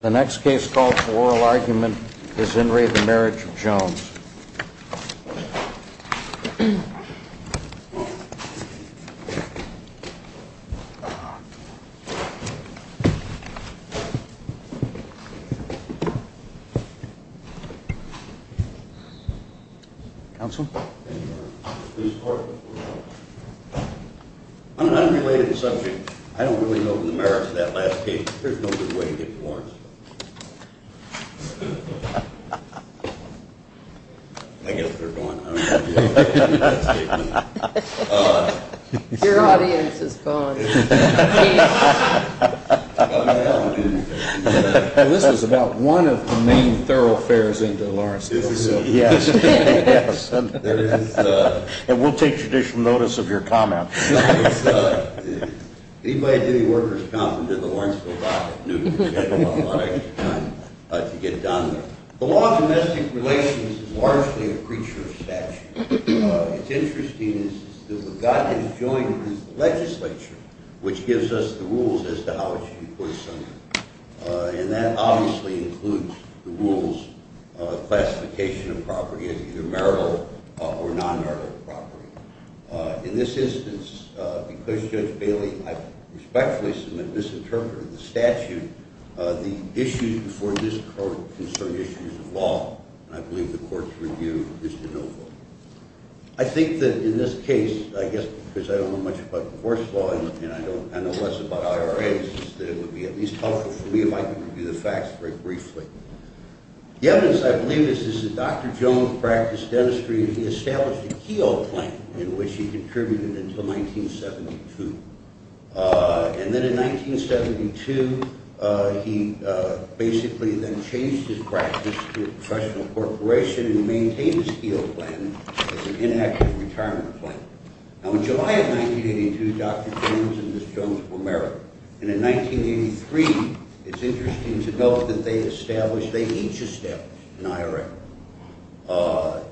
The next case called Oral Argument is in re The Marriage of Jones. Counsel? Thank you, Your Honor. Please report. On an unrelated subject, I don't really know the merits of that last case. There's no good way to get to Lawrence. I guess they're gone. I don't know if you have anything to add to that statement. Your audience is gone. Well, this is about one of the main thoroughfares into the Lawrence case. Yes, yes. And we'll take judicial notice of your comment. Anybody at any workers' conference in the Lawrenceville Docket knew that we had a lot of time to get done. The law of domestic relations is largely a creature of statute. It's interesting that God has joined the legislature, which gives us the rules as to how it should be put asunder. And that obviously includes the rules of classification of property as either marital or non-marital property. In this instance, because Judge Bailey, I respectfully submit, misinterpreted the statute, the issues before this court concern issues of law. And I believe the court's review is to no vote. I think that in this case, I guess because I don't know much about divorce law and I know less about IRAs, that it would be at least helpful for me if I could review the facts very briefly. The evidence, I believe, is that Dr. Jones practiced dentistry and he established a Keogh plan in which he contributed until 1972. And then in 1972, he basically then changed his practice to a professional corporation and he maintained his Keogh plan as an inactive retirement plan. Now in July of 1982, Dr. Jones and Ms. Jones were married. And in 1983, it's interesting to note that they established, they each established an IRA.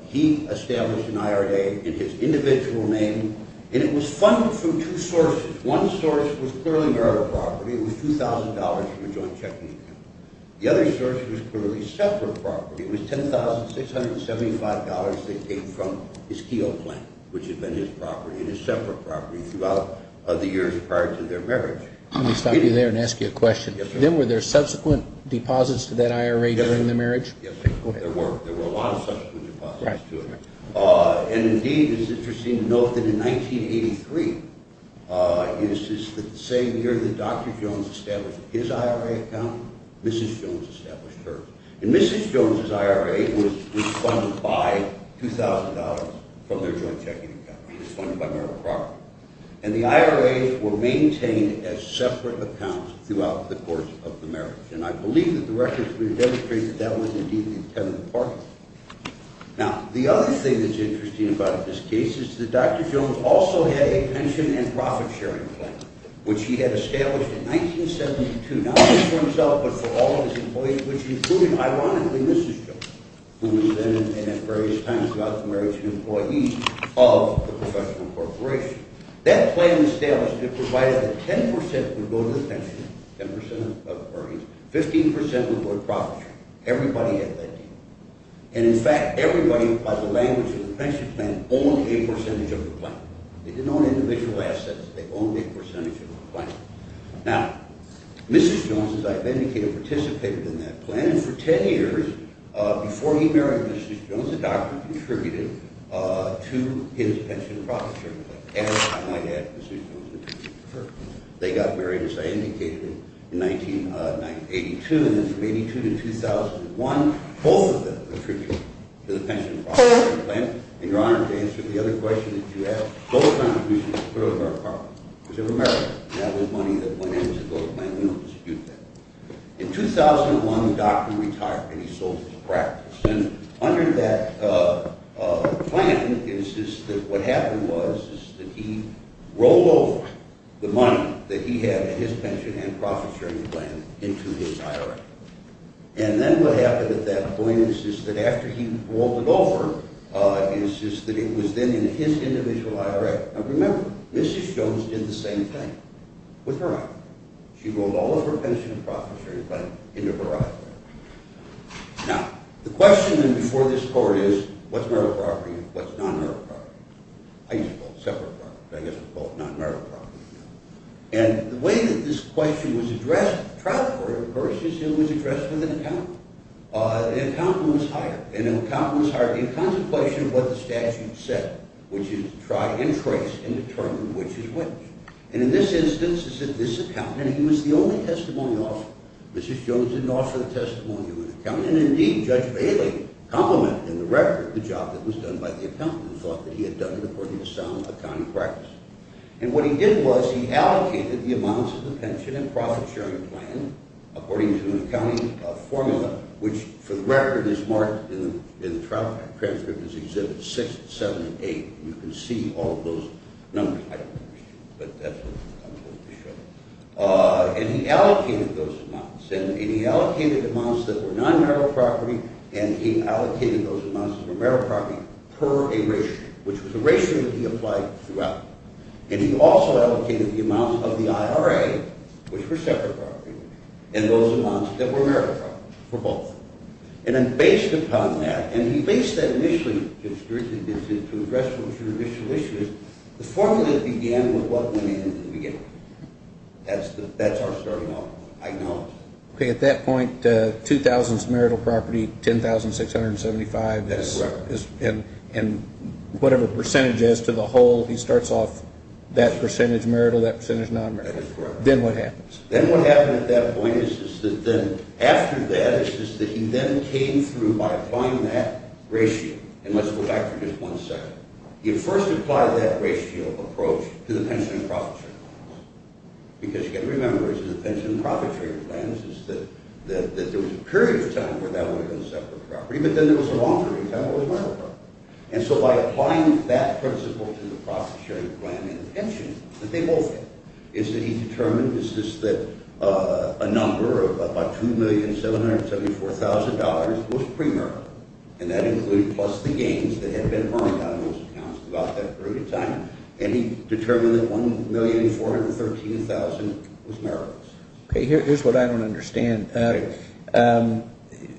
He established an IRA in his individual name and it was funded through two sources. One source was clearly marital property. It was $2,000 from a joint checking account. The other source was clearly separate property. It was $10,675 they paid from his Keogh plan, which had been his property and his separate property throughout the years prior to their marriage. Let me stop you there and ask you a question. Yes, sir. Then were there subsequent deposits to that IRA during the marriage? Yes, there were. There were a lot of subsequent deposits to it. And indeed, it's interesting to note that in 1983, the same year that Dr. Jones established his IRA account, Mrs. Jones established hers. And Mrs. Jones's IRA was funded by $2,000 from their joint checking account. It was funded by marital property. And the IRAs were maintained as separate accounts throughout the course of the marriage. And I believe that the records would demonstrate that that was indeed the intent of the party. Now, the other thing that's interesting about this case is that Dr. Jones also had a pension and profit-sharing plan, which he had established in 1972, not just for himself but for all of his employees, which included, ironically, Mrs. Jones, who was then, and at various times throughout the marriage, an employee of the professional corporation. That plan established it provided that 10% would go to the pension, 10% of earnings, 15% would go to profit-sharing. Everybody had that deal. And in fact, everybody, by the language of the pension plan, owned a percentage of the plan. They didn't own individual assets. They owned a percentage of the plan. Now, Mrs. Jones, as I've indicated, participated in that plan. And for 10 years, before he married Mrs. Jones, the doctor contributed to his pension and profit-sharing plan. And, I might add, Mrs. Jones was the person to prefer. They got married, as I indicated, in 1982. And then from 1982 to 2001, both of them contributed to the pension and profit-sharing plan. And you're honored to answer the other question that you asked. Both contributions were of our partners, which were Americans. And that was money that went into both plans. We don't dispute that. In 2001, the doctor retired, and he sold his practice. And under that plan, what happened was that he rolled over the money that he had in his pension and profit-sharing plan into his IRA. And then what happened at that point is that after he rolled it over, it was then in his individual IRA. Now, remember, Mrs. Jones did the same thing with her IRA. She rolled all of her pension and profit-sharing plan into her IRA. Now, the question then before this court is, what's marital property and what's non-marital property? I used to call it separate property, but I guess I'll call it non-marital property now. And the way that this question was addressed at the trial court, of course, is it was addressed with an accountant. And the accountant was hired. And the accountant was hired in contemplation of what the statute said, which is to try and trace and determine which is which. And in this instance, it said this accountant. And he was the only testimony offered. Mrs. Jones didn't offer the testimony of an accountant. And indeed, Judge Bailey complimented in the record the job that was done by the accountant, who thought that he had done it according to sound accounting practice. And what he did was he allocated the amounts of the pension and profit-sharing plan according to an accounting formula, which for the record is marked in the trial transcript as Exhibits 6, 7, and 8. And you can see all of those numbers. I don't think we should, but that's what I'm going to show. And he allocated those amounts. And he allocated amounts that were non-marital property, and he allocated those amounts that were marital property per a ratio, which was a ratio that he applied throughout. And he also allocated the amounts of the IRA, which were separate property, and those amounts that were marital property for both. And then based upon that, and he based that initially to address some judicial issues, the formula began with what went in at the beginning. That's our starting off. I acknowledge. Okay. At that point, $2,000 is marital property, $10,675 is whatever percentage is to the whole. He starts off that percentage marital, that percentage non-marital. That is correct. Then what happens? Then what happened at that point is that then after that is that he then came through by applying that ratio. And let's go back for just one second. He first applied that ratio approach to the pension and profit-sharing plans. Because you've got to remember that the pension and profit-sharing plans is that there was a period of time where that would have been separate property, but then there was a longer period of time where it was marital property. And so by applying that principle to the profit-sharing plan and the pension, that they both fit, is that he determined that a number of about $2,774,000 was premarital. And that included plus the gains that had been earned out of those accounts throughout that period of time. And he determined that $1,413,000 was marital. Here's what I don't understand.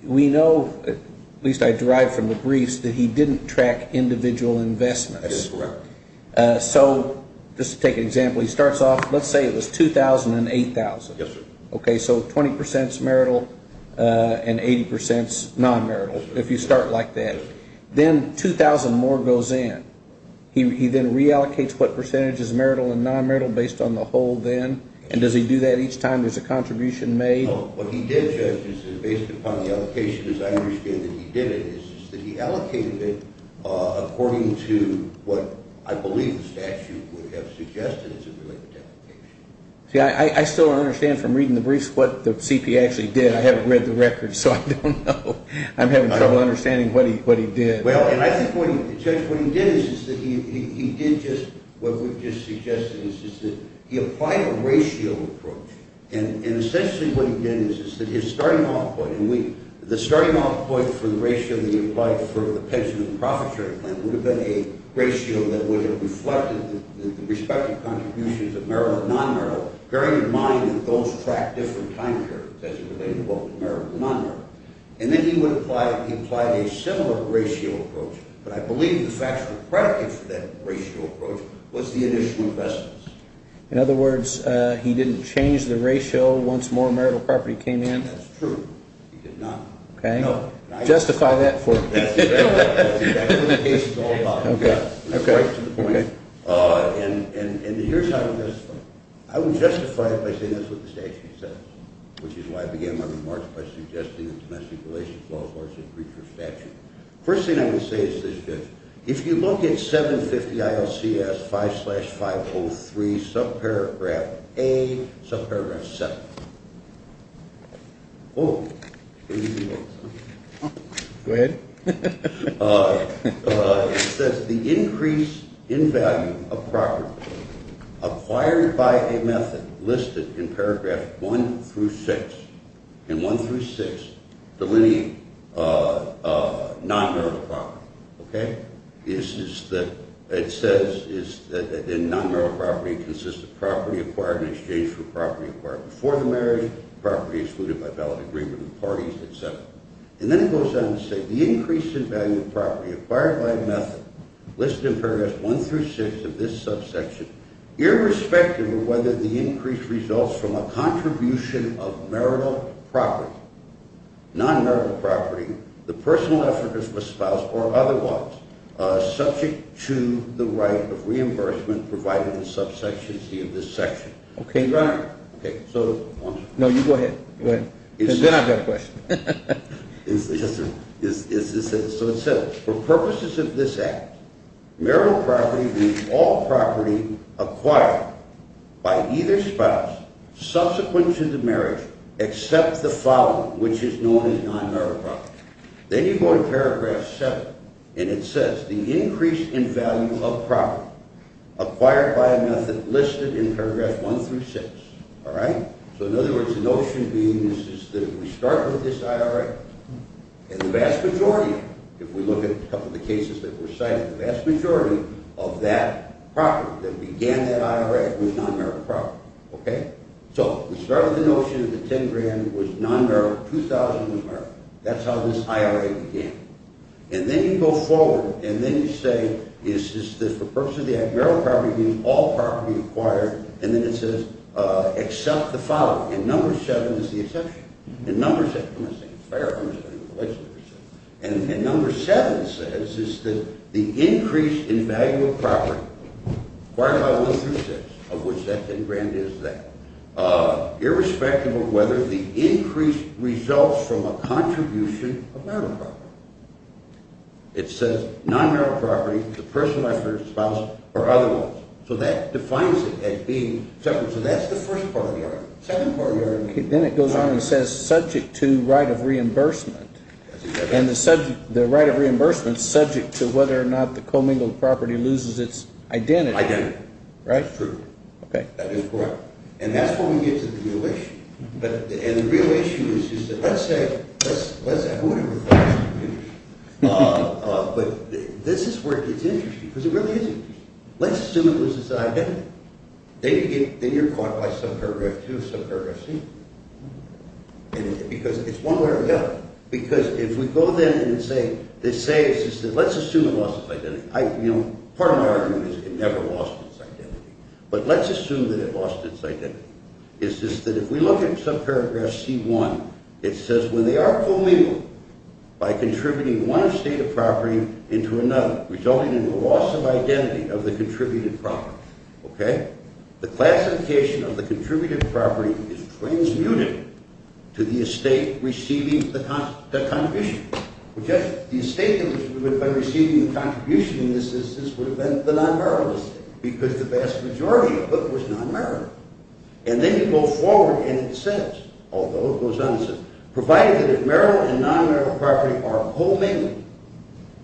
We know, at least I derived from the briefs, that he didn't track individual investments. That is correct. So just to take an example, he starts off, let's say it was $2,000 and $8,000. Yes, sir. Okay, so 20% is marital and 80% is non-marital if you start like that. Yes, sir. Then $2,000 more goes in. He then reallocates what percentage is marital and non-marital based on the whole then. And does he do that each time there's a contribution made? No. What he did, Judge, is based upon the allocation, as I understand that he did it, is that he allocated it according to what I believe the statute would have suggested as a related allocation. See, I still don't understand from reading the briefs what the CPA actually did. I haven't read the records, so I don't know. I'm having trouble understanding what he did. Well, and I think, Judge, what he did is that he did just what we've just suggested, is that he applied a ratio approach. And essentially what he did is that his starting off point, and the starting off point for the ratio that he applied for the pension and profit sharing plan would have been a ratio that would have reflected the respective contributions of marital and non-marital, bearing in mind that those track different time periods as it related both marital and non-marital. And then he would apply a similar ratio approach, but I believe the factual predicate for that ratio approach was the initial investments. In other words, he didn't change the ratio once more marital property came in? That's true. He did not. Okay. Justify that for me. That's exactly what the case is all about. Okay. And here's how I would justify it. I would justify it by saying that's what the statute says, which is why I began my remarks by suggesting the Domestic Relations Law of Arts and Creatures statute. The first thing I would say is this, Judge. If you look at 750 ILCS 5-503, subparagraph A, subparagraph 7. Whoa. Go ahead. It says the increase in value of property acquired by a method listed in paragraph 1 through 6, and 1 through 6 delineate non-marital property. Okay? It says that non-marital property consists of property acquired in exchange for property acquired before the marriage, property excluded by valid agreement of parties, et cetera. And then it goes on to say the increase in value of property acquired by a method listed in paragraphs 1 through 6 of this subsection, irrespective of whether the increase results from a contribution of marital property, non-marital property, the personal effort of a spouse or otherwise, subject to the right of reimbursement provided in subsection C of this section. Okay. Okay. No, you go ahead. Go ahead. Because then I've got a question. So it says, for purposes of this act, marital property means all property acquired by either spouse subsequent to the marriage except the following, which is known as non-marital property. Then you go to paragraph 7, and it says the increase in value of property acquired by a method listed in paragraphs 1 through 6. All right? So in other words, the notion being is that if we start with this IRA, and the vast majority, if we look at a couple of the cases that were cited, the vast majority of that property that began that IRA was non-marital property. Okay? So we start with the notion that the $10,000 was non-marital, $2,000 was marital. That's how this IRA began. And then you go forward, and then you say, is this, for purposes of the act, marital property means all property acquired, and then it says except the following. And number 7 is the exception. And number 6, I'm not saying it's fair, I'm just saying it's the legislature's. And number 7 says is that the increase in value of property acquired by 1 through 6, of which that 10 grand is that, irrespective of whether the increase results from a contribution of marital property. It says non-marital property, the person, wife, or spouse, or other ones. So that defines it as being separate. So that's the first part of the argument. The second part of the argument. Then it goes on and says subject to right of reimbursement. And the right of reimbursement is subject to whether or not the commingled property loses its identity. Identity. Right? True. That is correct. And that's where we get to the real issue. And the real issue is just that, let's say, who would have thought that? But this is where it gets interesting, because it really isn't. Let's assume it loses its identity. Then you're caught by subparagraph 2 of subparagraph C. Because it's one way or the other. Because if we go then and say, let's assume it lost its identity. Part of my argument is it never lost its identity. But let's assume that it lost its identity. It's just that if we look at subparagraph C.1, it says, when they are commingled by contributing one estate of property into another, resulting in the loss of identity of the contributed property. Okay? The classification of the contributed property is transmuted to the estate receiving the contribution. The estate, by receiving the contribution in this instance, would have been the non-borrowed estate. Because the vast majority of it was non-borrowed. And then you go forward and it says, although it goes on to say, provided that if borrowed and non-borrowed property are commingled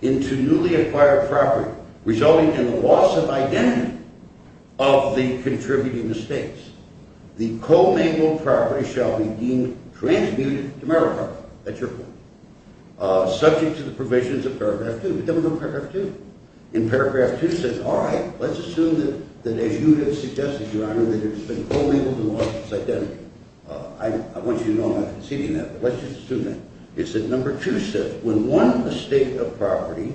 into newly acquired property, resulting in the loss of identity of the contributing estates, the commingled property shall be deemed transmuted to borrowed property. That's your point. Subject to the provisions of paragraph 2. But then we're on paragraph 2. In paragraph 2 it says, all right, let's assume that as you have suggested, Your Honor, that it's been commingled and lost its identity. I want you to know I'm not conceding that, but let's just assume that. It says, number 2 says, when one estate of property,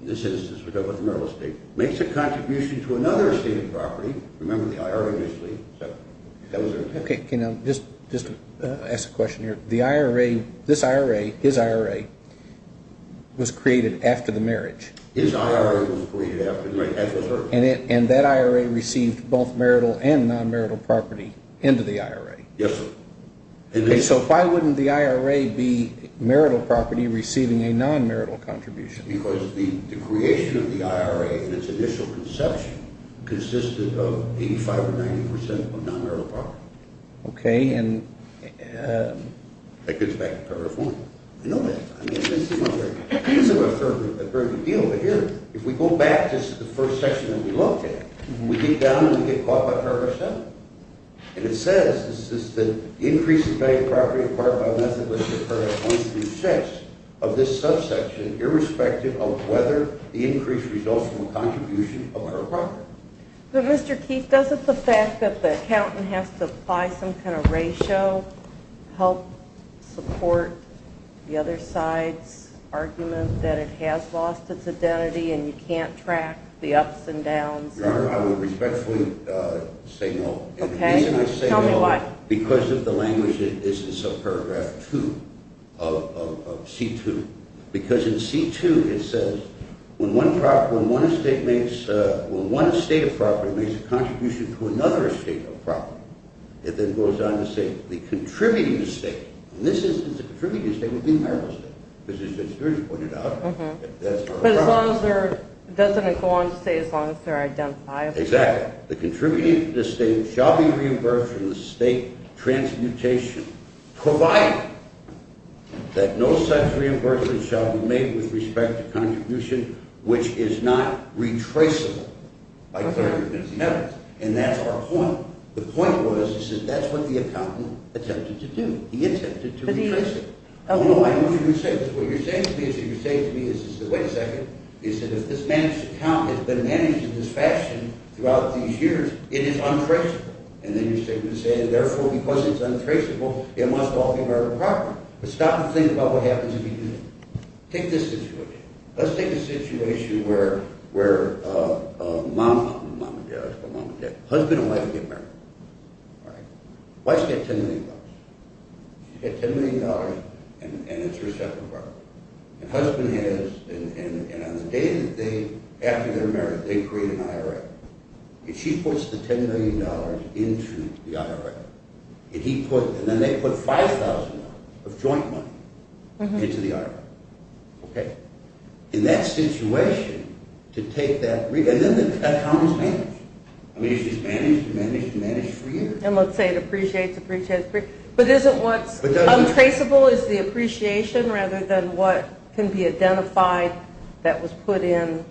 in this instance we're talking about the Merrill Estate, makes a contribution to another estate of property, remember the IRA initially. Okay, can I just ask a question here? This IRA, his IRA, was created after the marriage. His IRA was created after the marriage. And that IRA received both marital and non-marital property into the IRA. Yes, sir. So why wouldn't the IRA be marital property receiving a non-marital contribution? Because the creation of the IRA in its initial conception consisted of 85 or 90 percent of non-marital property. Okay, and? That goes back to paragraph 1. I know that. I mean, this is not very, this is not a very big deal. But here, if we go back just to the first section that we look at, we get down and we get caught by paragraph 7. And it says, the increase in value of property acquired by a method listed in paragraph 1 through 6 of this subsection irrespective of whether the increase results from a contribution of her property. But Mr. Keith, doesn't the fact that the accountant has to apply some kind of ratio help support the other side's argument that it has lost its identity and you can't track the ups and downs? Your Honor, I would respectfully say no. Okay, tell me why. Because of the language that is in subparagraph 2 of C2. Because in C2 it says, when one estate makes, when one estate of property makes a contribution to another estate of property, it then goes on to say, the contributing estate, in this instance the contributing estate would be a marital estate, because as Mr. Gersh pointed out, that's not a property. But as long as there, doesn't it go on to say as long as they're identifiable? Exactly. The contributing estate shall be reimbursed from the state transmutation, provided that no such reimbursement shall be made with respect to contribution which is not retraceable. Okay. And that's our point. The point was, he said, that's what the accountant attempted to do. He attempted to retrace it. But he, oh. What you're saying to me is, you're saying to me is, wait a second, is that if this man's account has been managed in this fashion throughout these years, it is untraceable. And then you're saying, therefore, because it's untraceable, it must all be marital property. But stop and think about what happens if you do that. Take this situation. Let's take a situation where a mom, a husband and wife get married. Alright. Wife's got $10 million. She's got $10 million and it's her separate property. And husband has, and on the day that they, after they're married, they create an IRA. And she puts the $10 million into the IRA. And he put, and then they put $5,000 of joint money into the IRA. Okay. In that situation, to take that, and then the account is managed. And let's say it appreciates, appreciates, appreciates. But isn't what's untraceable is the appreciation rather than what can be identified that was put in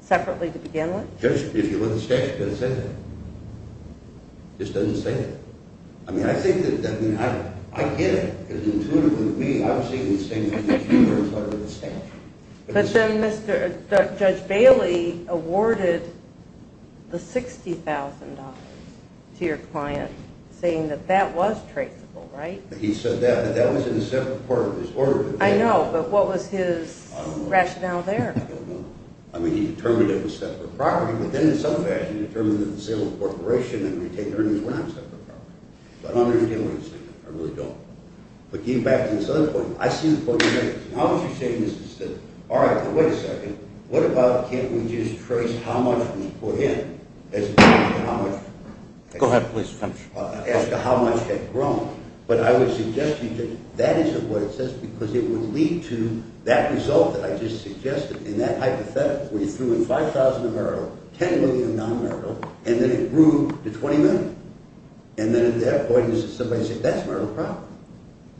separately to begin with? Just, if you look at the statute, it doesn't say that. It just doesn't say that. I mean, I think that, I mean, I get it. It's intuitive with me. I'm seeing the same thing that you are as part of the statute. But then Judge Bailey awarded the $60,000 to your client saying that that was traceable, right? He said that, that that was in a separate part of his order. I know, but what was his rationale there? I don't know. I mean, he determined it was separate property, but then in some fashion determined that the sale of the corporation and retained earnings were not separate property. So I don't understand what he's saying. I really don't. But getting back to this other point, I see the book of merits. Now what you're saying is that, all right, but wait a second. What about can't we just trace how much was put in as opposed to how much? Go ahead, please. As to how much had grown. But I would suggest to you that that isn't what it says because it would lead to that result that I just suggested. And that hypothetical where you threw in $5,000 of merit, $10 million of non-merit, and then it grew to $20 million. And then at that point somebody said, that's not a problem.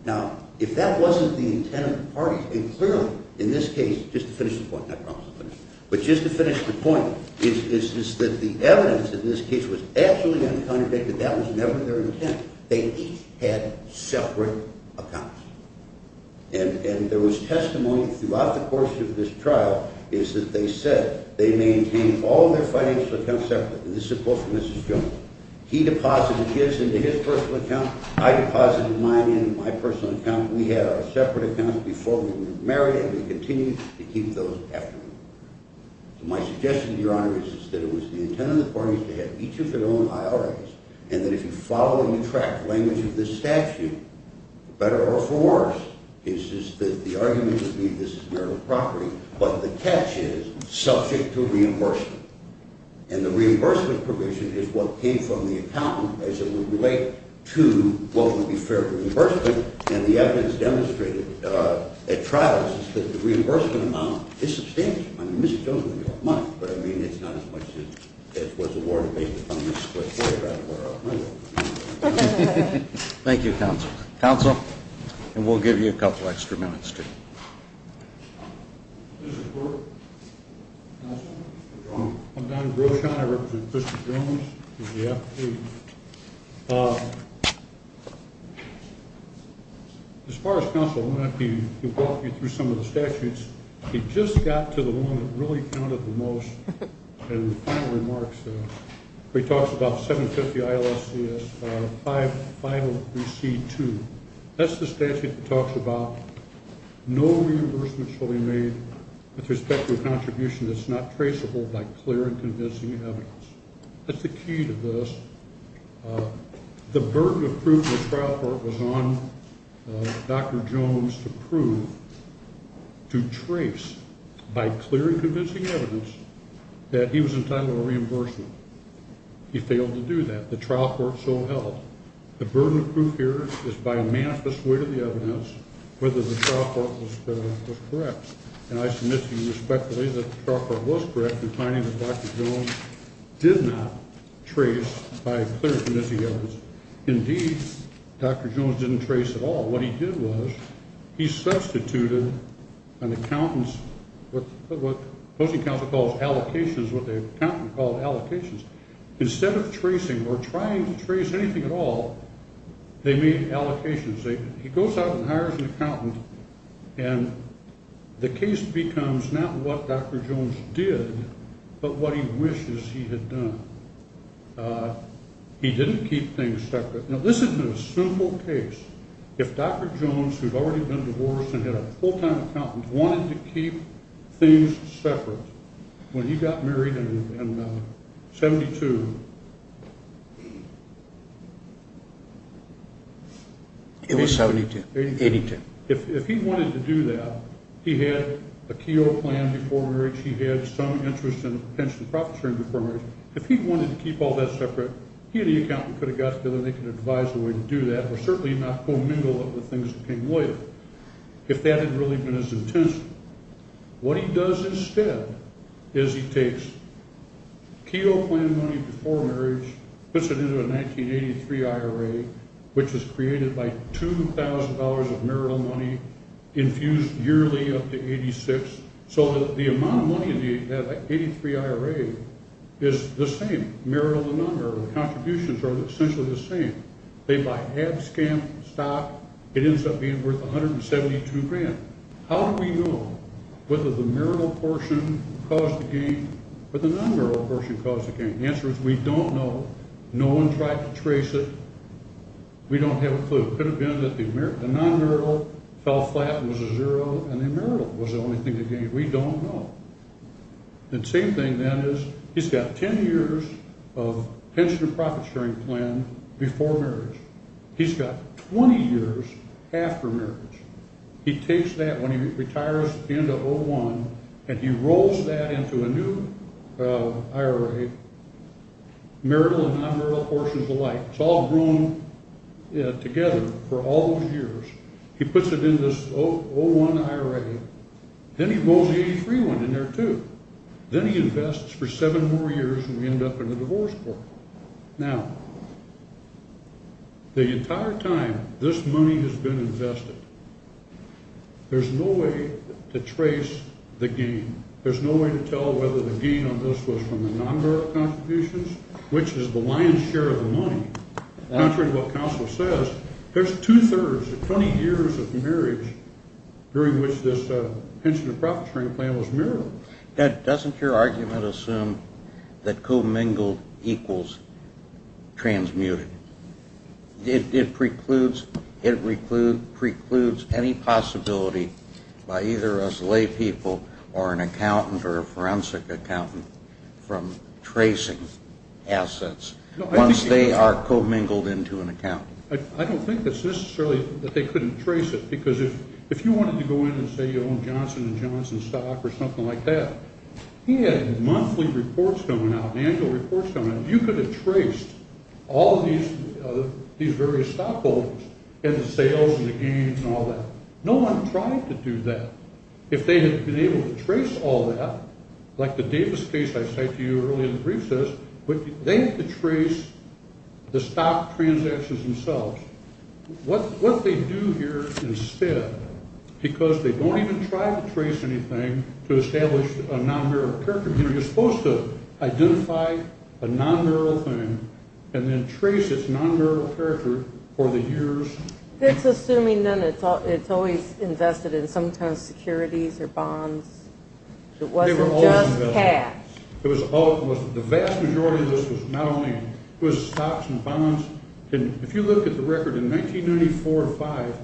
Now, if that wasn't the intent of the parties, and clearly in this case, just to finish the point, I promise to finish, but just to finish the point, is that the evidence in this case was absolutely uncontradicted. That was never their intent. They each had separate accounts. And there was testimony throughout the course of this trial is that they said they maintained all their financial accounts separate. And this is a quote from Mrs. Jones. He deposited his into his personal account. I deposited mine into my personal account. We had our separate accounts before we were married, and we continued to keep those after we were married. My suggestion to your honor is that it was the intent of the parties to have each of their own IRAs, and that if you follow and you track the language of this statute, better or for worse, it's just that the argument would be this is marital property. But the catch is, subject to reimbursement. And the reimbursement provision is what came from the accountant as it would relate to what would be fair to reimbursement. And the evidence demonstrated at trials is that the reimbursement amount is substantial. I mean, Mrs. Jones doesn't have a lot of money, but, I mean, it's not as much as was awarded based upon the split paragraph of our agreement. Thank you, counsel. Counsel? Mr. Quirk? Counsel? I'm Donnie Brochon. I represent Mr. Jones. He's the applicant. As far as counsel, I'm going to have to walk you through some of the statutes. He just got to the one that really counted the most in the final remarks. He talks about 750 ILSCS, 503C2. That's the statute that talks about no reimbursement shall be made with respect to a contribution that's not traceable by clear and convincing evidence. That's the key to this. The burden of proof in the trial court was on Dr. Jones to prove, to trace, by clear and convincing evidence that he was entitled to reimbursement. He failed to do that. The trial court so held. The burden of proof here is by manifest way to the evidence whether the trial court was correct. And I submit to you respectfully that the trial court was correct in finding that Dr. Jones did not trace by clear and convincing evidence. Indeed, Dr. Jones didn't trace at all. What he did was he substituted an accountant's, what the opposing counsel calls allocations, what the accountant called allocations. Instead of tracing or trying to trace anything at all, they made allocations. He goes out and hires an accountant, and the case becomes not what Dr. Jones did, but what he wishes he had done. He didn't keep things separate. Now, this has been a simple case. If Dr. Jones, who had already been divorced and had a full-time accountant, wanted to keep things separate, when he got married in 72, if he wanted to do that, he had a Keogh plan before marriage. He had some interest in a pension profit sharing before marriage. If he wanted to keep all that separate, he and the accountant could have got together and they could have advised a way to do that or certainly not commingle it with things that came later if that had really been his intention. What he does instead is he takes Keogh plan money before marriage, puts it into a 1983 IRA, which is created by $2,000 of marital money infused yearly up to 86, so that the amount of money in the 1983 IRA is the same, marital and non-marital. The contributions are essentially the same. They buy abscam stock. It ends up being worth 172 grand. How do we know whether the marital portion caused the gain or the non-marital portion caused the gain? The answer is we don't know. No one tried to trace it. We don't have a clue. It could have been that the non-marital fell flat and was a zero and the marital was the only thing that gained. We don't know. The same thing then is he's got 10 years of pension and profit sharing plan before marriage. He's got 20 years after marriage. He takes that when he retires into 01, and he rolls that into a new IRA, marital and non-marital portions alike. It's all grown together for all those years. He puts it in this 01 IRA. Then he rolls a 83 one in there too. Then he invests for seven more years, and we end up in a divorce court. Now, the entire time this money has been invested, there's no way to trace the gain. There's no way to tell whether the gain on this was from the non-marital contributions, which is the lion's share of the money. Contrary to what counsel says, there's two-thirds, 20 years of marriage during which this pension and profit sharing plan was mirrored. Ted, doesn't your argument assume that commingled equals transmuted? It precludes any possibility by either us lay people or an accountant or a forensic accountant from tracing assets once they are commingled into an account. I don't think it's necessarily that they couldn't trace it, because if you wanted to go in and say you own Johnson & Johnson stock or something like that, he had monthly reports coming out, annual reports coming out. You could have traced all these various stockholders and the sales and the gains and all that. No one tried to do that. If they had been able to trace all that, like the Davis case I cited to you earlier in the brief says, they could trace the stock transactions themselves. What they do here instead, because they don't even try to trace anything to establish a non-marital character, you're supposed to identify a non-marital thing and then trace its non-marital character for the years. It's assuming then it's always invested in some kind of securities or bonds. It wasn't just cash. The vast majority of this was not only stocks and bonds. If you look at the record in 1994-5,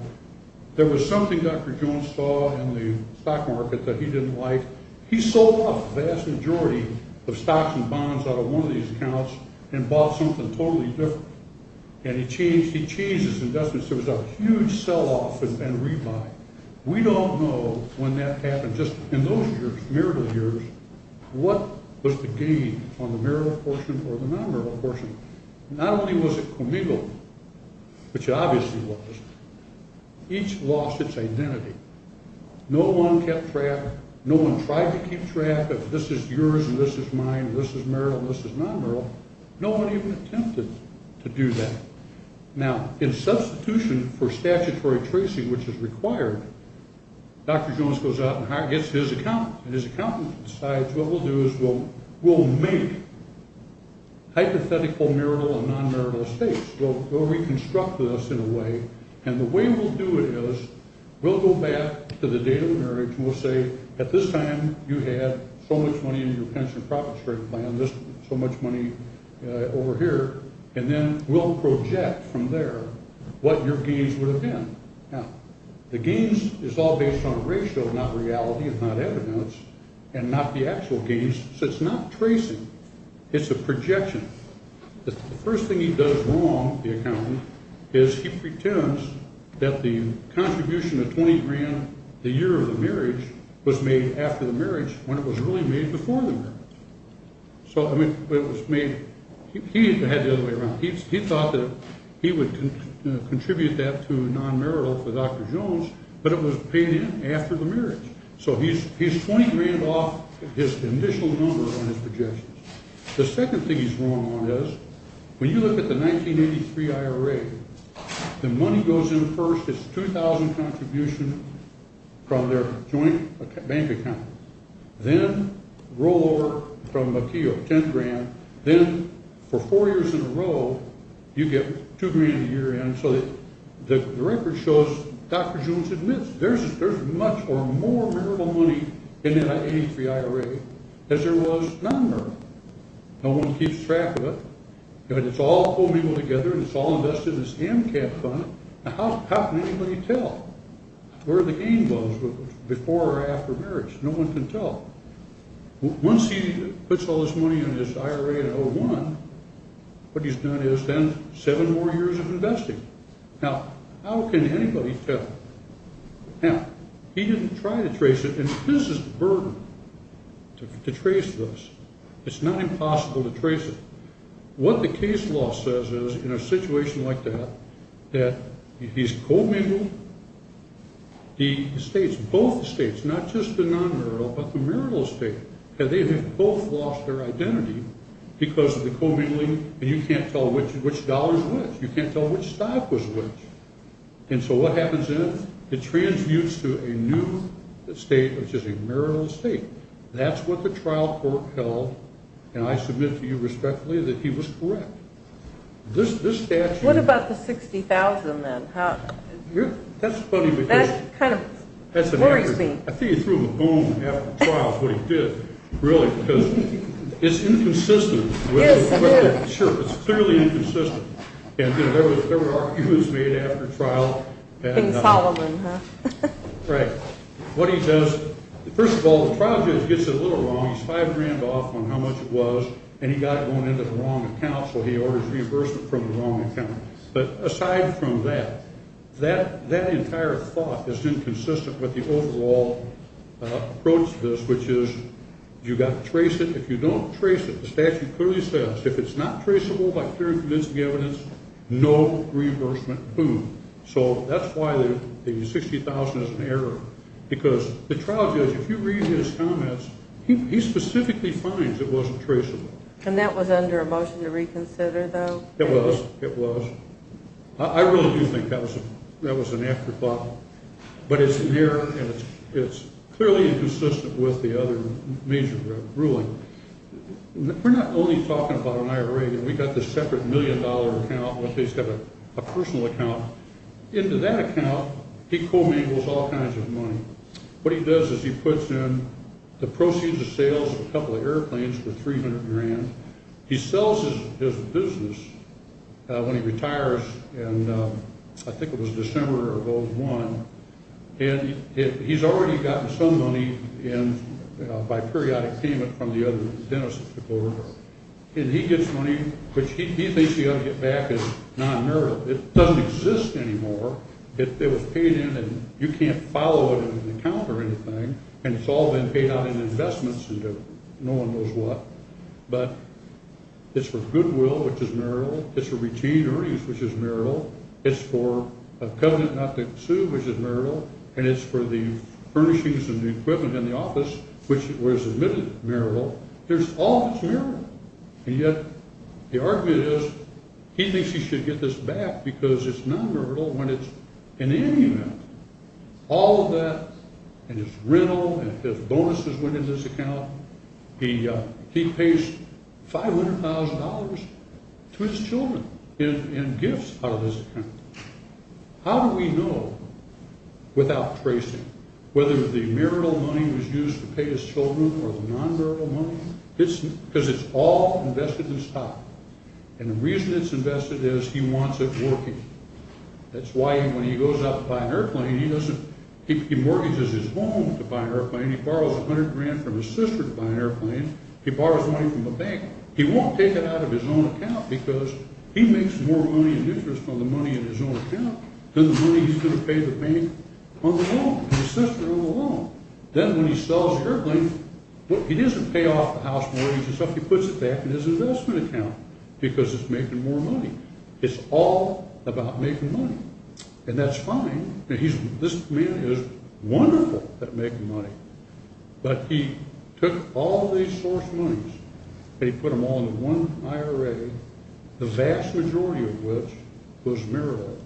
there was something Dr. Jones saw in the stock market that he didn't like. He sold off the vast majority of stocks and bonds out of one of these accounts and bought something totally different. And he changed his investments. There was a huge sell-off and rebuy. We don't know when that happened. Just in those years, marital years, what was the gain on the marital portion or the non-marital portion? Not only was it comigo, which it obviously was, each lost its identity. No one kept track. No one tried to keep track of this is yours and this is mine, this is marital and this is non-marital. No one even attempted to do that. Now, in substitution for statutory tracing, which is required, Dr. Jones goes out and gets his accountant. And his accountant decides what we'll do is we'll make hypothetical marital and non-marital states. We'll reconstruct this in a way. And the way we'll do it is we'll go back to the date of the marriage and we'll say, at this time, you had so much money in your pension profit-straight plan, so much money over here. And then we'll project from there what your gains would have been. Now, the gains is all based on ratio, not reality and not evidence, and not the actual gains. So it's not tracing. It's a projection. The first thing he does wrong, the accountant, is he pretends that the contribution of $20,000 the year of the marriage was made after the marriage when it was really made before the marriage. So it was made – he had it the other way around. He thought that he would contribute that to non-marital for Dr. Jones, but it was paid in after the marriage. So he's $20,000 off his initial number on his projections. The second thing he's wrong on is when you look at the 1983 IRA, the money goes in first. It's a $2,000 contribution from their joint bank account. Then rollover from a key of $10,000. Then for four years in a row, you get $2,000 a year in. So the record shows Dr. Jones admits there's much or more marital money in that 1983 IRA as there was non-marital. No one keeps track of it. It's all homing together. It's all invested in this AMCAP fund. How can anybody tell where the gain was before or after marriage? No one can tell. Once he puts all this money in his IRA in 2001, what he's done is spend seven more years of investing. Now, how can anybody tell? Now, he didn't try to trace it, and this is a burden to trace this. It's not impossible to trace it. What the case law says is, in a situation like that, that he's co-mingled the states, both the states, not just the non-marital but the marital estate. They have both lost their identity because of the co-mingling, and you can't tell which dollar is which. You can't tell which stock was which. And so what happens then? It transmutes to a new estate, which is a marital estate. That's what the trial court held, and I submit to you respectfully that he was correct. This statute… What about the $60,000 then? That's funny because… That kind of worries me. I think he threw him a bone after the trial is what he did, really, because it's inconsistent. Yes, it is. Sure, it's clearly inconsistent. And there were arguments made after trial. Bing Solomon, huh? Right. What he does, first of all, the trial judge gets it a little wrong. He's five grand off on how much it was, and he got it going into the wrong account, so he orders reimbursement from the wrong account. But aside from that, that entire thought is inconsistent with the overall approach to this, which is you've got to trace it. If you don't trace it, the statute clearly says, if it's not traceable by clear and convincing evidence, no reimbursement. Boom. So that's why the $60,000 is an error because the trial judge, if you read his comments, he specifically finds it wasn't traceable. And that was under a motion to reconsider, though? It was. It was. I really do think that was an afterthought, but it's an error, and it's clearly inconsistent with the other major ruling. We're not only talking about an IRA. We've got this separate million-dollar account. Let's say he's got a personal account. Into that account, he commingles all kinds of money. What he does is he puts in the proceeds of sales of a couple of airplanes for 300 grand. He sells his business when he retires, and I think it was December of 2001, and he's already gotten some money by periodic payment from the other dentists. And he gets money, which he thinks he ought to get back as non-merit. It doesn't exist anymore. It was paid in, and you can't follow it in an account or anything, and it's all been paid out in investments and no one knows what. But it's for goodwill, which is merit. It's for routine earnings, which is merit. It's for covenant not to sue, which is merit, and it's for the furnishings and the equipment in the office, which was admitted merit. There's all this merit, and yet the argument is he thinks he should get this back because it's non-merit when it's in any amount. All of that and his rental and his bonuses went in this account. He pays $500,000 to his children in gifts out of his account. How do we know without tracing whether the marital money was used to pay his children or the non-marital money? Because it's all invested in stock, and the reason it's invested is he wants it working. That's why when he goes out to buy an airplane, he mortgages his home to buy an airplane. He borrows $100,000 from his sister to buy an airplane. He borrows money from the bank. He won't take it out of his own account because he makes more money in interest on the money in his own account than the money he's going to pay the bank on the loan, his sister on the loan. Then when he sells the airplane, he doesn't pay off the house mortgage and stuff. He puts it back in his investment account because it's making more money. It's all about making money, and that's fine. This man is wonderful at making money, but he took all these source monies and he put them all into one IRA, the vast majority of which was marital,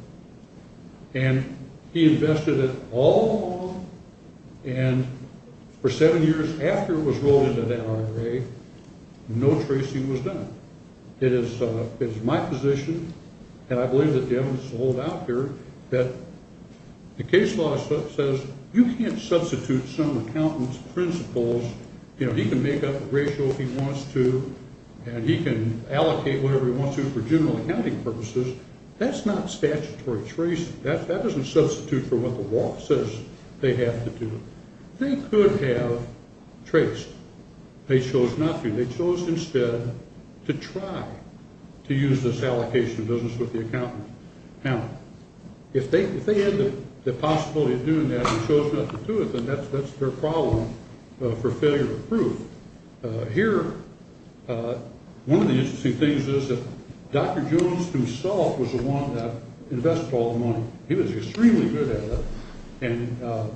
and he invested it all along, and for seven years after it was rolled into that IRA, no tracing was done. It is my position, and I believe that the evidence is sold out here, that the case law says you can't substitute some accountant's principles. He can make up the ratio if he wants to, and he can allocate whatever he wants to for general accounting purposes. That's not statutory tracing. That doesn't substitute for what the law says they have to do. They could have traced. They chose not to. They chose instead to try to use this allocation of business with the accountant. Now, if they had the possibility of doing that and chose not to do it, then that's their problem for failure to prove. Here, one of the interesting things is that Dr. Jones himself was the one that invested all the money. He was extremely good at it, and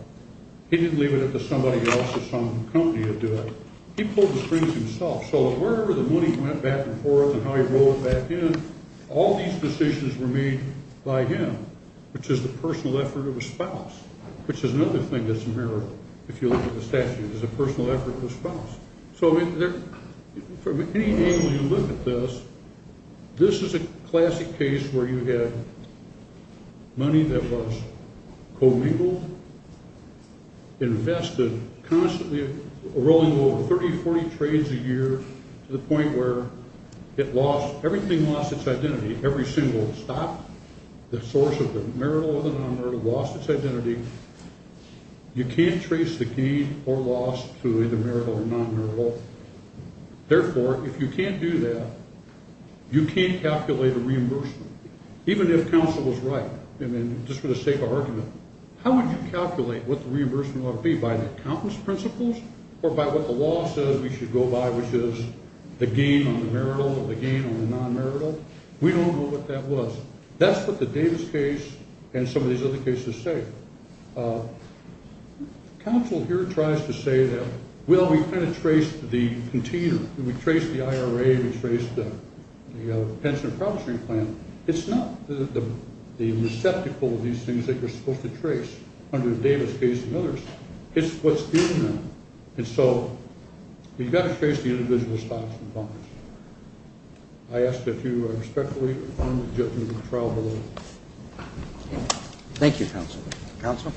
he didn't leave it up to somebody else or some company to do it. He pulled the strings himself. So wherever the money went back and forth and how he rolled it back in, all these decisions were made by him, which is the personal effort of a spouse, which is another thing that's a mirror, if you look at the statute, is a personal effort of a spouse. So from any angle you look at this, this is a classic case where you had money that was commingled, invested, constantly rolling over 30, 40 trades a year to the point where it lost, everything lost its identity, every single stock, the source of the marital or the non-marital lost its identity. You can't trace the gain or loss to either marital or non-marital. Therefore, if you can't do that, you can't calculate a reimbursement, even if counsel was right, just for the sake of argument. How would you calculate what the reimbursement ought to be, by an accountant's principles or by what the law says we should go by, which is the gain on the marital or the gain on the non-marital? We don't know what that was. That's what the Davis case and some of these other cases say. Counsel here tries to say that, well, we kind of traced the container. We traced the IRA. We traced the pension and promissory plan. It's not the receptacle of these things that you're supposed to trace under the Davis case and others. It's what's given them. And so we've got to trace the individual stocks and bonds. I ask that you respectfully fund the judgment of the trial below. Thank you, counsel. Counsel?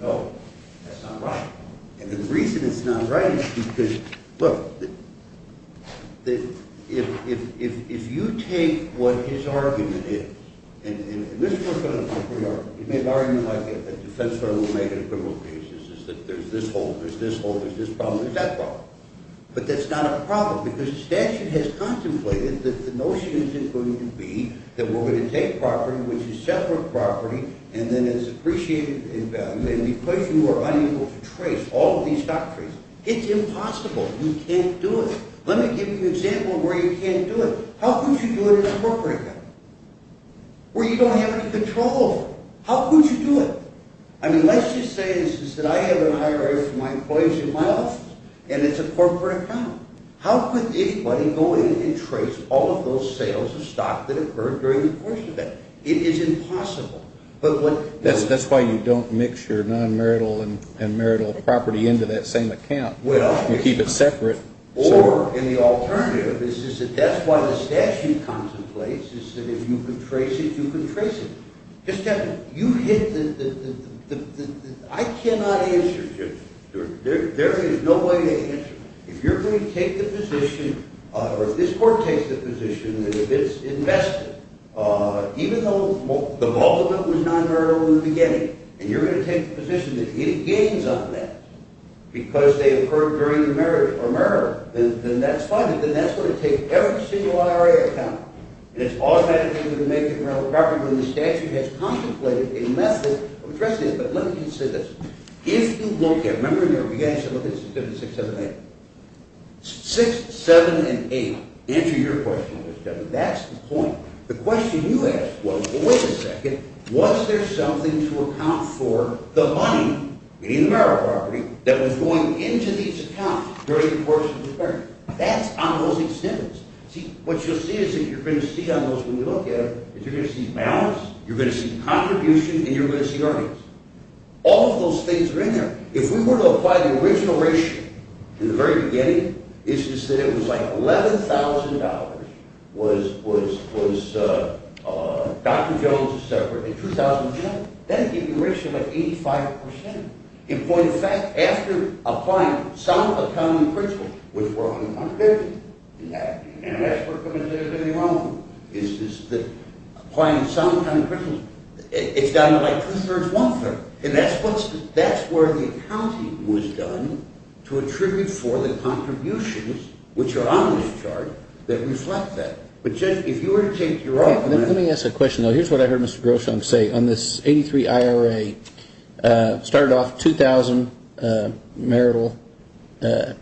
No, that's not right. And the reason it's not right is because, look, if you take what his argument is, and this works on a separate argument. He made an argument like a defense lawyer will make in a criminal case, is that there's this hole, there's this hole, there's this problem, there's that problem. But that's not a problem because the statute has contemplated that the notion is going to be that we're going to take property, which is separate property, and then it's appreciated in value. And because you are unable to trace all of these doctrines, it's impossible. You can't do it. Let me give you an example of where you can't do it. How could you do it in a corporate account where you don't have any control over it? How could you do it? I mean, let's just say, instead, I have an IRA for my employees in my office, and it's a corporate account. How could anybody go in and trace all of those sales of stock that occurred during the course of that? It is impossible. That's why you don't mix your non-marital and marital property into that same account. You keep it separate. Or, and the alternative is that that's why the statute contemplates, is that if you can trace it, you can trace it. You hit the – I cannot answer this. There is no way to answer this. If you're going to take the position, or if this court takes the position, and if it's invested, even though the Baltimore was non-marital in the beginning, and you're going to take the position that it gains on that because they occurred during the marriage or marital, then that's fine, but then that's going to take every single IRA account, and it's automatically going to make it a marital property when the statute has contemplated a method of addressing it. But let me just say this. If you look at – remember in your reaction, look at 6, 7, 8. 6, 7, and 8 answer your question, Mr. Chairman. That's the point. The question you asked was, well, wait a second. Was there something to account for the money, meaning the marital property, that was going into these accounts during the course of the marriage? That's on those exemptions. See, what you'll see is that you're going to see on those when you look at them is you're going to see balance, you're going to see contribution, and you're going to see earnings. All of those things are in there. If we were to apply the original ratio in the very beginning, is to say it was like $11,000 was Dr. Jones' separate in 2010, that would give you a ratio of like 85%. In point of fact, after applying some of the accounting principles, which were on the contradiction, and that's where I'm going to say there's anything wrong with it, is that applying some accounting principles, it's down to like two-thirds, one-third, and that's where the accounting was done to attribute for the contributions, which are on this chart, that reflect that. But if you were to take your argument. Let me ask a question, though. Here's what I heard Mr. Grosham say. On this 83 IRA, started off 2,000 marital, I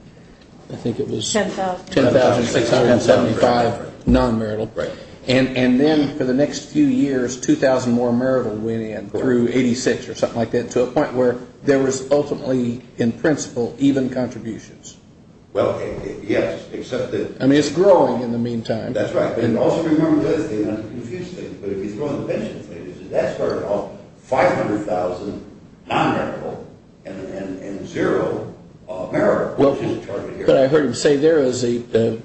think it was 10,675 non-marital, and then for the next few years, 2,000 more marital went in through 86 or something like that to a point where there was ultimately, in principle, even contributions. Well, yes, except that. I mean, it's growing in the meantime. That's right. But also remember this, and I'm confused here, but if you throw in the pensions, that started off 500,000 non-marital and zero marital. But I heard him say there was a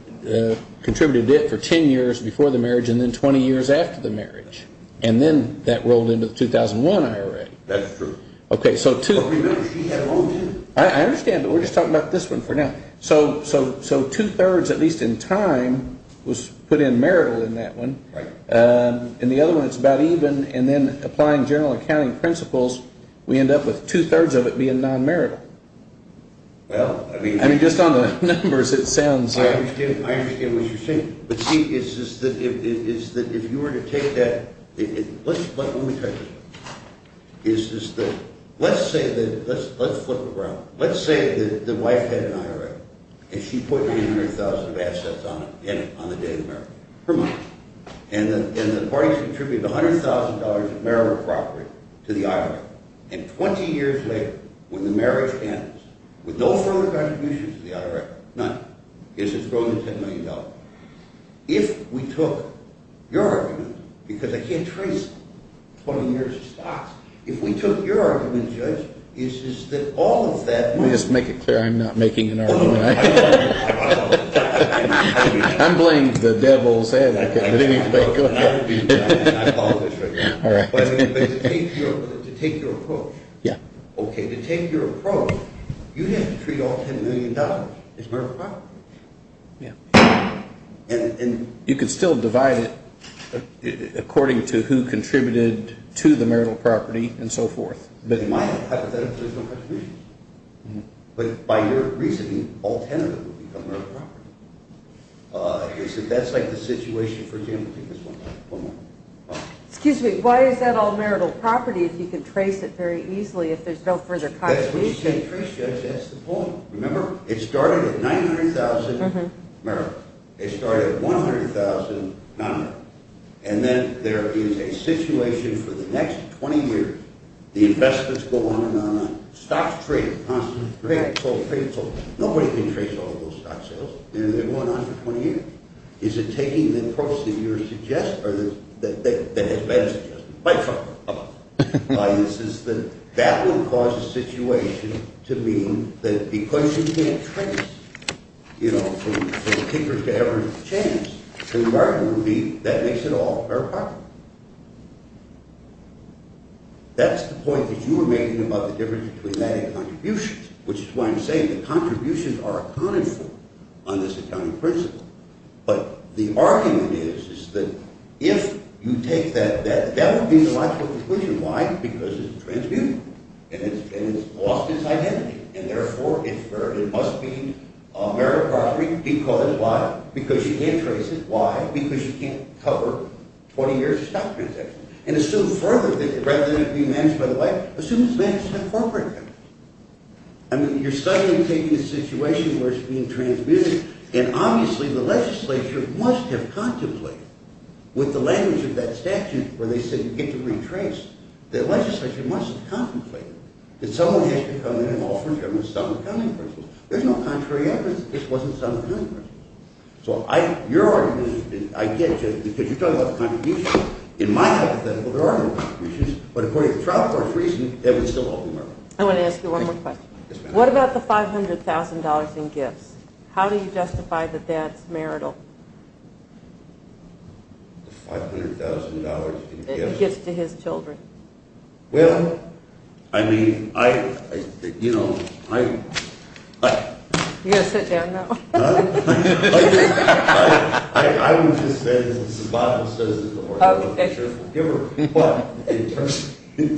contributed debt for 10 years before the marriage and then 20 years after the marriage, and then that rolled into the 2001 IRA. That's true. Okay, so two. But remember, she had loans in it. I understand, but we're just talking about this one for now. So two-thirds, at least in time, was put in marital in that one. Right. In the other one, it's about even, and then applying general accounting principles, we end up with two-thirds of it being non-marital. Well, I mean— I mean, just on the numbers, it sounds— I understand what you're saying. But, see, it's just that if you were to take that—let me tell you something. Let's flip it around. Let's say that the wife had an IRA, and she put in 100,000 of assets on it on the day of the marriage, her money. And the parties contributed $100,000 of marital property to the IRA, and 20 years later, when the marriage ends, with no further contributions to the IRA, none. It's just growing to $10 million. If we took your argument, because I can't trace 20 years of stocks. If we took your argument, Judge, it's just that all of that money— Let me just make it clear I'm not making an argument. I'm playing the devil's advocate. I apologize for that. But to take your approach, okay, to take your approach, you have to treat all $10 million as marital property. And— You could still divide it according to who contributed to the marital property and so forth. In my hypothetical, there's no contributions. But by your reasoning, all 10 of them would become marital property. That's like the situation, for example—take this one. Excuse me. Why is that all marital property if you can trace it very easily, if there's no further contributions? That's what you can't trace, Judge. That's the point. Remember, it started at $900,000 marital. It started at $100,000 non-marital. And then there is a situation for the next 20 years. The investments go on and on and on. Stocks trade constantly. Trade, sold, trade, sold. Nobody can trace all of those stock sales. And they're going on for 20 years. Is it taking the approach that you're suggesting—that has been suggested by Trump? That would cause a situation to mean that because you can't trace, you know, from kickers to every chance to the marital property, that makes it all marital property. That's the point that you were making about the difference between that and contributions, which is why I'm saying that contributions are accounted for on this accounting principle. But the argument is that if you take that, that would be the logical conclusion. Why? Because it's transmutable. And it's lost its identity. And therefore, it must be marital property because—why? Because you can't trace it. Why? Because you can't cover 20 years of stock transactions. And assume further that rather than it being managed by the wife, assume it's managed by the corporate family. I mean, you're suddenly taking a situation where it's being transmutable. And obviously, the legislature must have contemplated with the language of that statute where they said you get to retrace. The legislature must have contemplated that someone has to come in and offer the government some accounting principles. There's no contrary evidence that this wasn't some accounting principle. So your argument, I get you, because you're talking about contributions. In my hypothetical, there are no contributions. But according to the Trial Court's reasoning, it would still hold marital property. I want to ask you one more question. Yes, ma'am. What about the $500,000 in gifts? How do you justify that that's marital? The $500,000 in gifts? Gifts to his children. Well, I mean, I—you know, I— You've got to sit down now. Huh? I would just say, as the Bible says in the Lord's Word, that you're a forgiver. But in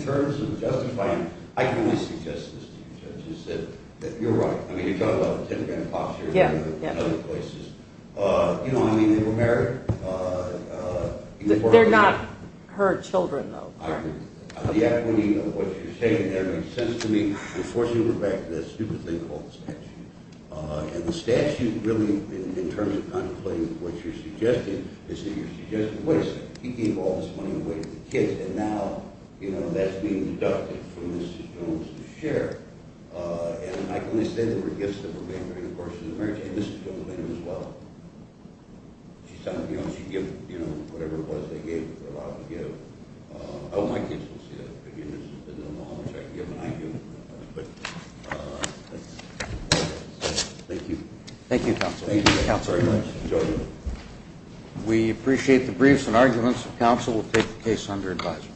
terms of justifying, I can only suggest this to you, Judge, which is that you're right. I mean, you're talking about the Tentagram Boxer and other places. You know what I mean? They were married. They're not her children, though. I agree. The accounting of what you're saying there makes sense to me. Unfortunately, we're back to that stupid thing called the statute. And the statute really, in terms of contemplating what you're suggesting, is that you're suggesting, wait a second, he gave all this money away to the kids, and now, you know, that's being deducted from Mrs. Jones's share. And I can only say there were gifts that were made during the course of the marriage, and Mrs. Jones made them as well. She said, you know, she'd give, you know, whatever it was they gave her. A lot of them gave. I hope my kids will see that. I don't know how much I can give them, and I do. But that's all I can say. Thank you. Thank you, Counsel. Thank you very much, Judge. We appreciate the briefs and arguments. Counsel will take the case under advisement.